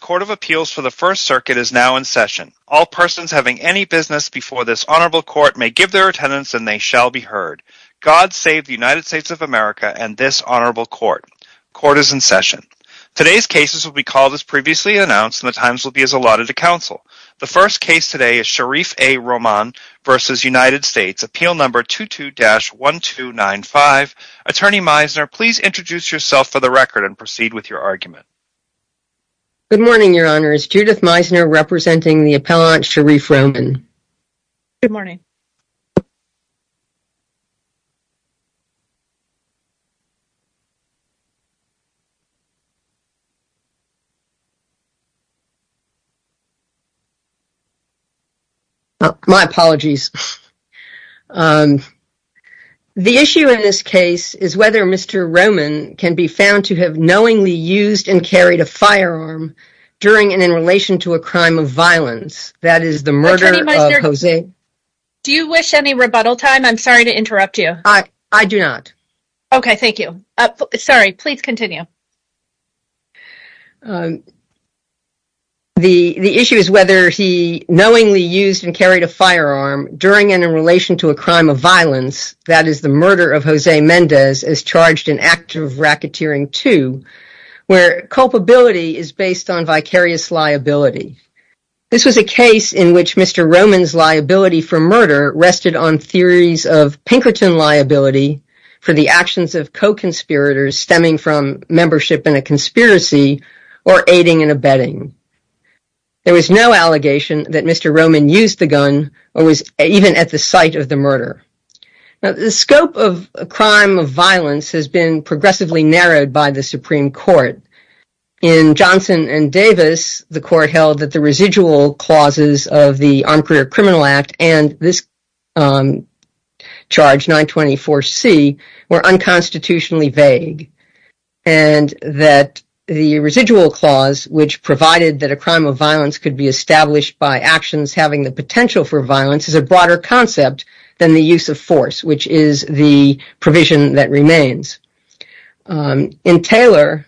Court of Appeals for the First Circuit is now in session. All persons having any business before this Honorable Court may give their attendance and they shall be heard. God save the United States of America and this Honorable Court. Court is in session. Today's cases will be called as previously announced and the times will be as allotted to counsel. The first case today is Sharif A. Roman v. United States, appeal number 22-1295. Attorney Meisner, please introduce yourself for the record and proceed with your argument. Good morning, Your Honor. It's Judith Meisner representing the appellant Sharif Roman. Good morning. My apologies. The issue in this case is whether Mr. Roman can be found to have knowingly used and carried a firearm during and in relation to a crime of violence, that is the murder of Jose. Do you wish any rebuttal time? I'm sorry to interrupt you. I do not. Okay, thank you. Sorry, please continue. The issue is whether he knowingly used and carried a firearm during and in relation to a crime of violence, that is the murder of Jose Mendez is charged in active racketeering to where culpability is based on vicarious liability. This was a case in which Mr. Roman's liability for murder rested on theories of Pinkerton liability for the actions of co-conspirators stemming from membership in a conspiracy or aiding and abetting. There was no allegation that Mr. Roman used the gun or was even at the site of the murder. The scope of a crime of violence has been progressively narrowed by the Supreme Court. In Johnson and Davis, the court held that the residual clauses of the Armed Career Criminal Act and this charge 924 C were unconstitutionally vague. And that the residual clause, which provided that a crime of violence could be established by actions having the potential for violence is a broader concept than the use of force, which is the provision that remains. In Taylor,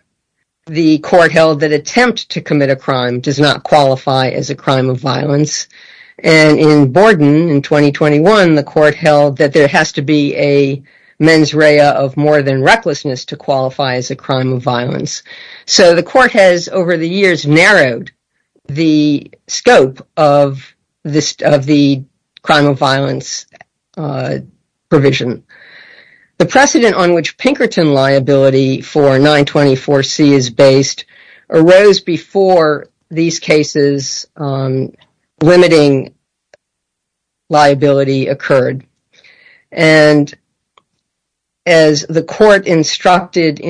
the court held that attempt to commit a crime does not qualify as a crime of violence. And in Borden in 2021, the court held that there has to be a mens rea of more than recklessness to qualify as a crime of violence. So the court has over the years narrowed the scope of the crime of violence provision. The precedent on which Pinkerton liability for 924 C is based arose before these cases limiting liability occurred. And as the court instructed,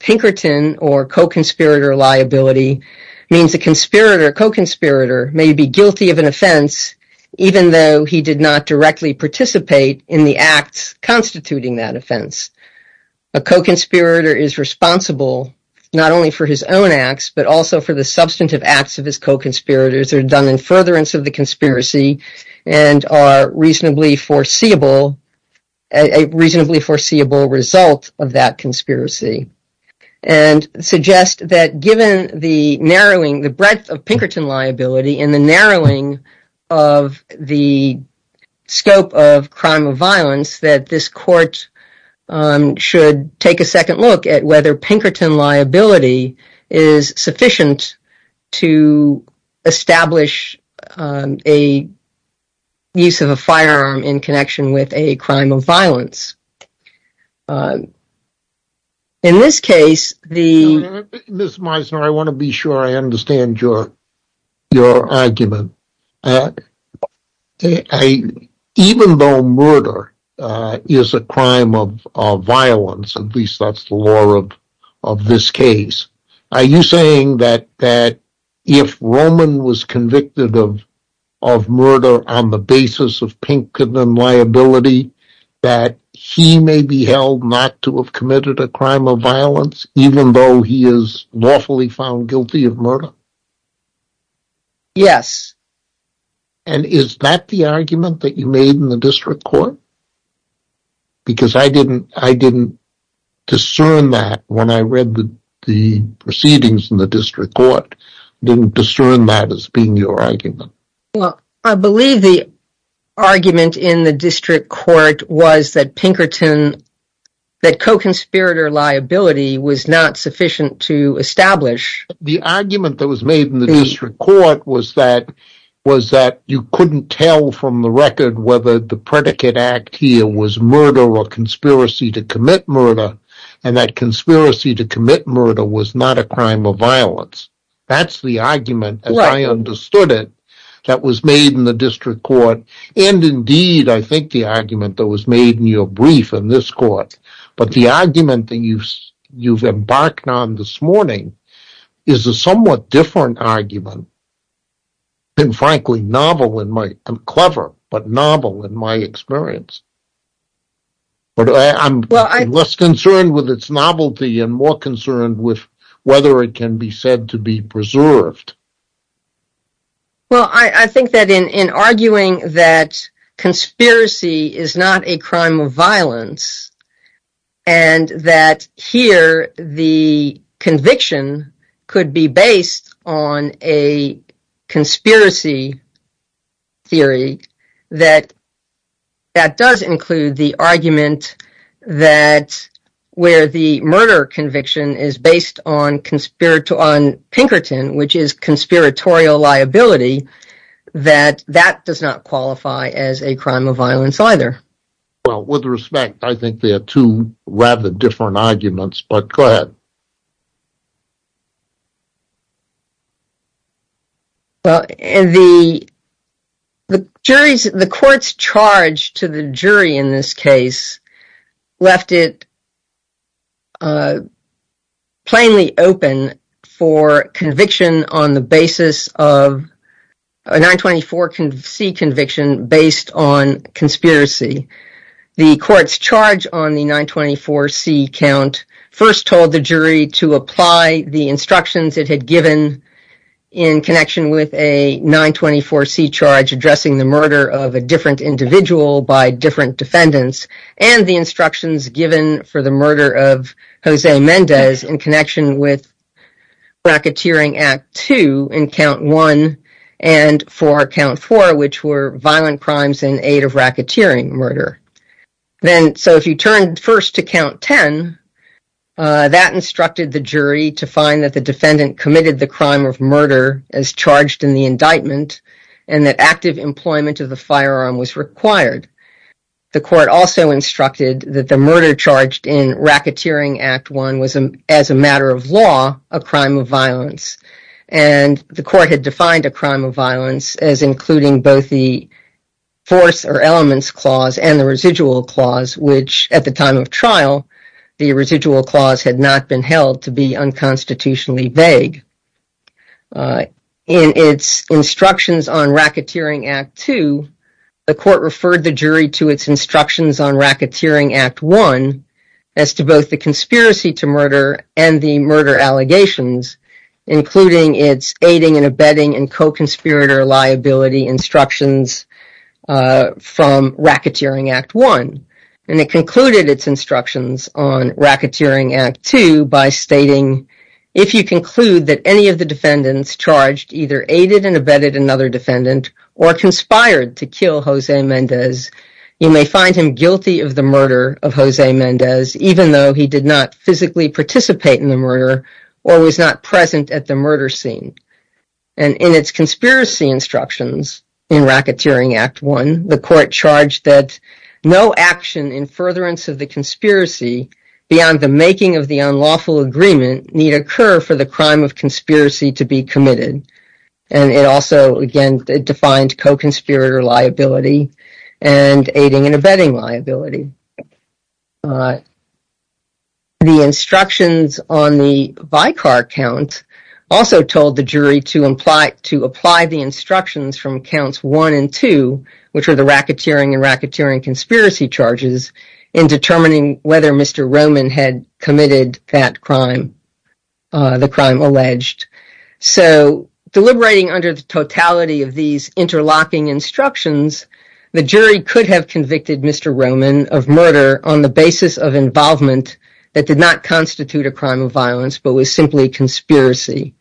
Pinkerton or co-conspirator liability means the conspirator, co-conspirator may be guilty of an offense, even though he did not directly participate in the acts constituting that offense. A co-conspirator is responsible not only for his own acts, but also for the substantive acts of his co-conspirators are done in furtherance of the conspiracy and are reasonably foreseeable, a reasonably foreseeable result of that conspiracy. And suggest that given the narrowing, the breadth of Pinkerton liability in the narrowing of the scope of crime of violence, that this court should take a second look at whether Pinkerton liability is sufficient to establish a use of a firearm in connection with a crime of violence. In this case, the Miss Meisner, I want to be sure I understand your, your argument. Even though murder is a crime of violence, at least that's the law of this case. Are you saying that that if Roman was convicted of, of murder on the basis of Pinkerton liability, that he may be held not to have committed a crime of violence, even though he is lawfully found guilty of murder? Yes. And is that the argument that you made in the district court? Because I didn't, I didn't discern that when I read the proceedings in the district court, didn't discern that as being your argument. Well, I believe the argument in the district court was that Pinkerton, that co-conspirator liability was not sufficient to establish. The argument that was made in the district court was that, was that you couldn't tell from the record whether the predicate act here was murder or conspiracy to commit murder. And that conspiracy to commit murder was not a crime of violence. That's the argument, as I understood it, that was made in the district court. And indeed, I think the argument that was made in your brief in this court, but the argument that you've, you've embarked on this morning is a somewhat different argument. And frankly, novel in my, clever, but novel in my experience. But I'm less concerned with its novelty and more concerned with whether it can be said to be preserved. Well, I think that in, in arguing that conspiracy is not a crime of violence and that here the conviction could be based on a conspiracy theory, that, that does include the argument that where the murder conviction is based on conspiracy, on Pinkerton, which is conspiratorial liability, that that does not qualify as a crime of violence either. Well, with respect, I think they are two rather different arguments, but go ahead. And the jury's, the court's charge to the jury in this case left it plainly open for conviction on the basis of a 924C conviction based on conspiracy. The court's charge on the 924C count first told the jury to apply the instructions it had given in connection with a 924C charge addressing the murder of a different individual by different defendants. And the instructions given for the murder of Jose Mendez in connection with racketeering act two in count one and for count four, which were violent crimes in aid of racketeering murder. Then, so if you turned first to count 10, that instructed the jury to find that the defendant committed the crime of murder as charged in the indictment and that active employment of the firearm was required. The court also instructed that the murder charged in racketeering act one was as a matter of law, a crime of violence. And the court had defined a crime of violence as including both the force or elements clause and the residual clause, which at the time of trial, the residual clause had not been held to be unconstitutionally vague. In its instructions on racketeering act two, the court referred the jury to its instructions on racketeering act one as to both the conspiracy to murder and the murder allegations, including its aiding and abetting and co-conspirator liability instructions from racketeering act one. And it concluded its instructions on racketeering act two by stating, if you conclude that any of the defendants charged either aided and abetted another defendant or conspired to kill Jose Mendez, you may find him guilty of the murder of Jose Mendez, even though he did not physically participate in the murder or was not present at the murder scene. And in its conspiracy instructions in racketeering act one, the court charged that no action in furtherance of the conspiracy beyond the making of the unlawful agreement need occur for the crime of conspiracy to be committed. And it also, again, defined co-conspirator liability and aiding and abetting liability. The instructions on the Vicar count also told the jury to apply the instructions from counts one and two, which are the racketeering and racketeering conspiracy charges, in determining whether Mr. Roman had committed that crime, the crime alleged. So deliberating under the totality of these interlocking instructions, the jury could have convicted Mr. Roman of murder on the basis of involvement that did not constitute a crime of violence, but was simply conspiracy.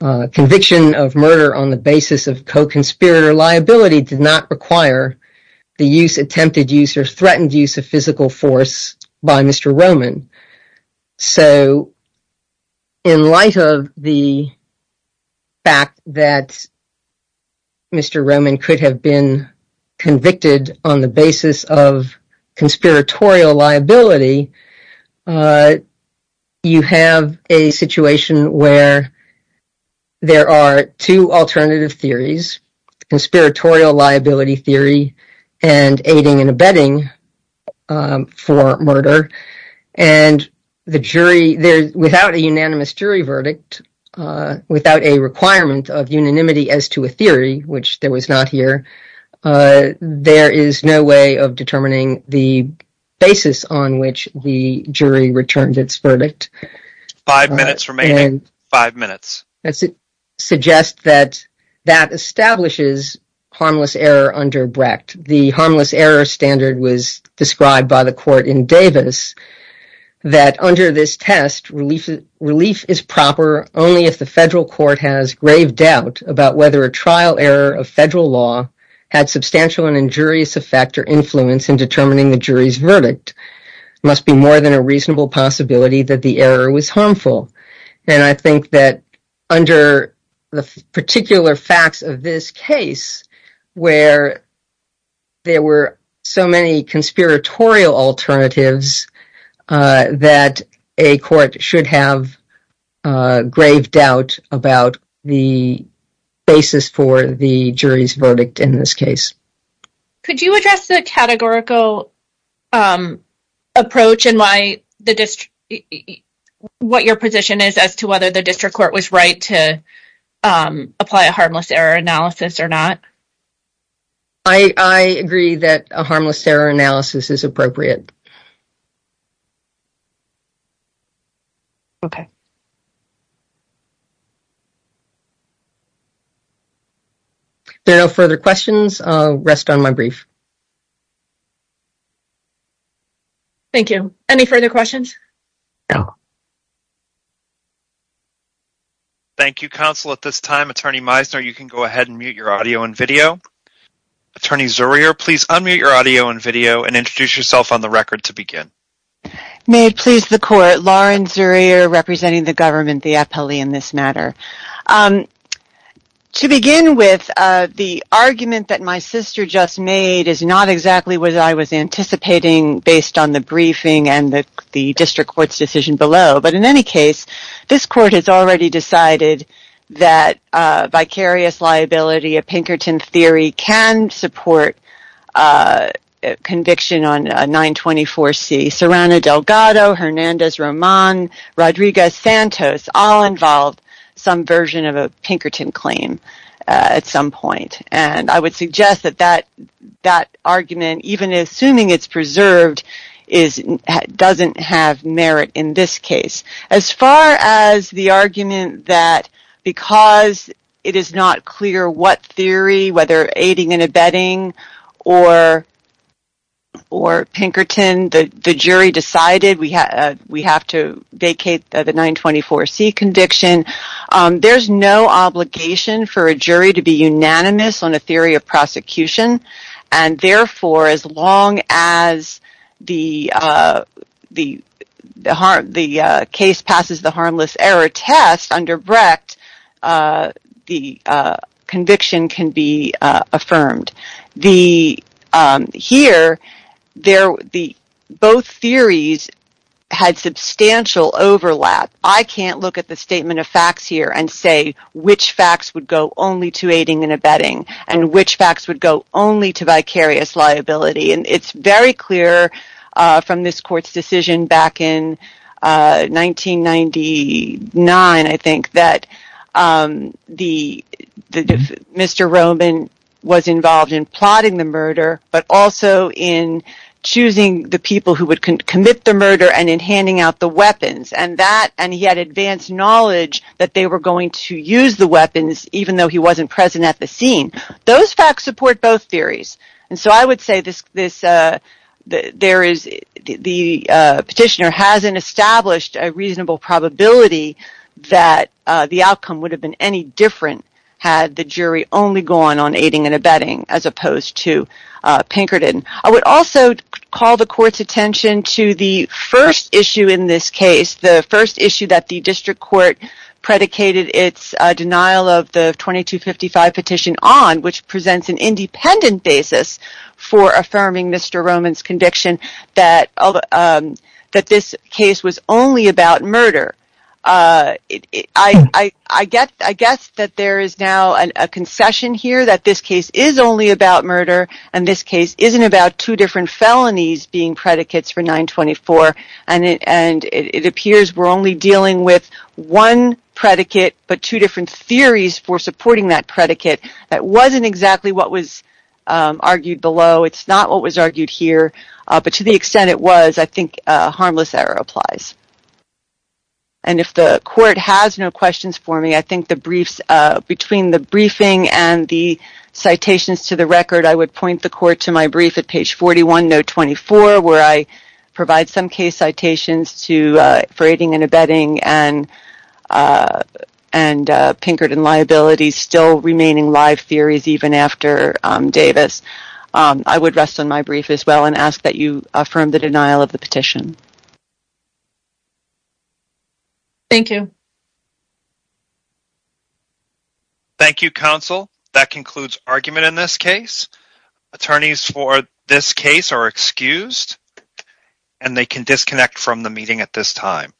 Conviction of murder on the basis of co-conspirator liability did not require the use, attempted use, or threatened use of physical force by Mr. Roman. So in light of the fact that Mr. Roman could have been convicted on the basis of conspiratorial liability, you have a situation where there are two alternative theories, conspiratorial liability theory and aiding and abetting for murder, and without a unanimous jury verdict, without a requirement of unanimity as to a theory, which there was not here, there is no way of determining the basis on which the jury returned its verdict. Five minutes remaining. Five minutes. That suggests that that establishes harmless error under Brecht. The harmless error standard was described by the court in Davis, that under this test, relief is proper only if the federal court has grave doubt about whether a trial error of federal law had substantial and injurious effect or influence in determining the jury's verdict. It must be more than a reasonable possibility that the error was harmful. And I think that under the particular facts of this case, where there were so many conspiratorial alternatives, that a court should have grave doubt about the basis for the jury's verdict in this case. Could you address the categorical approach and what your position is as to whether the district court was right to apply a harmless error analysis or not? I agree that a harmless error analysis is appropriate. Okay. If there are no further questions, I'll rest on my brief. Thank you. Any further questions? Thank you, counsel. At this time, Attorney Meisner, you can go ahead and mute your audio and video. Attorney Zurier, please unmute your audio and video and introduce yourself on the record to begin. May it please the court, Lauren Zurier, representing the government, the appellee in this matter. To begin with, the argument that my sister just made is not exactly what I was anticipating based on the briefing and the district court's decision below. But in any case, this court has already decided that vicarious liability, a Pinkerton theory, can support conviction on 924C. Serrano Delgado, Hernandez-Román, Rodriguez-Santos all involve some version of a Pinkerton claim at some point. And I would suggest that that argument, even assuming it's preserved, doesn't have merit in this case. As far as the argument that because it is not clear what theory, whether aiding and abetting or Pinkerton, the jury decided we have to vacate the 924C conviction, there's no obligation for a jury to be unanimous on a theory of prosecution. And therefore, as long as the case passes the harmless error test under Brecht, the conviction can be affirmed. Here, both theories had substantial overlap. I can't look at the statement of facts here and say which facts would go only to aiding and abetting and which facts would go only to vicarious liability. It's very clear from this court's decision back in 1999, I think, that Mr. Román was involved in plotting the murder, but also in choosing the people who would commit the murder and in handing out the weapons. And he had advanced knowledge that they were going to use the weapons, even though he wasn't present at the scene. Those facts support both theories. And so I would say the petitioner hasn't established a reasonable probability that the outcome would have been any different had the jury only gone on aiding and abetting as opposed to Pinkerton. I would also call the court's attention to the first issue in this case, the first issue that the district court predicated its denial of the 2255 petition on, which presents an independent basis for affirming Mr. Román's conviction that this case was only about murder. I guess that there is now a concession here that this case is only about murder and this case isn't about two different felonies being predicates for 924, and it appears we're only dealing with one predicate but two different theories for supporting that predicate. That wasn't exactly what was argued below. It's not what was argued here, but to the extent it was, I think harmless error applies. And if the court has no questions for me, I think between the briefing and the citations to the record, I would point the court to my brief at page 41, note 24, where I provide some case citations for aiding and abetting and Pinkerton liabilities still remaining live theories even after Davis. I would rest on my brief as well and ask that you affirm the denial of the petition. Thank you. Thank you, Counsel. That concludes argument in this case. Attorneys for this case are excused and they can disconnect from the meeting at this time.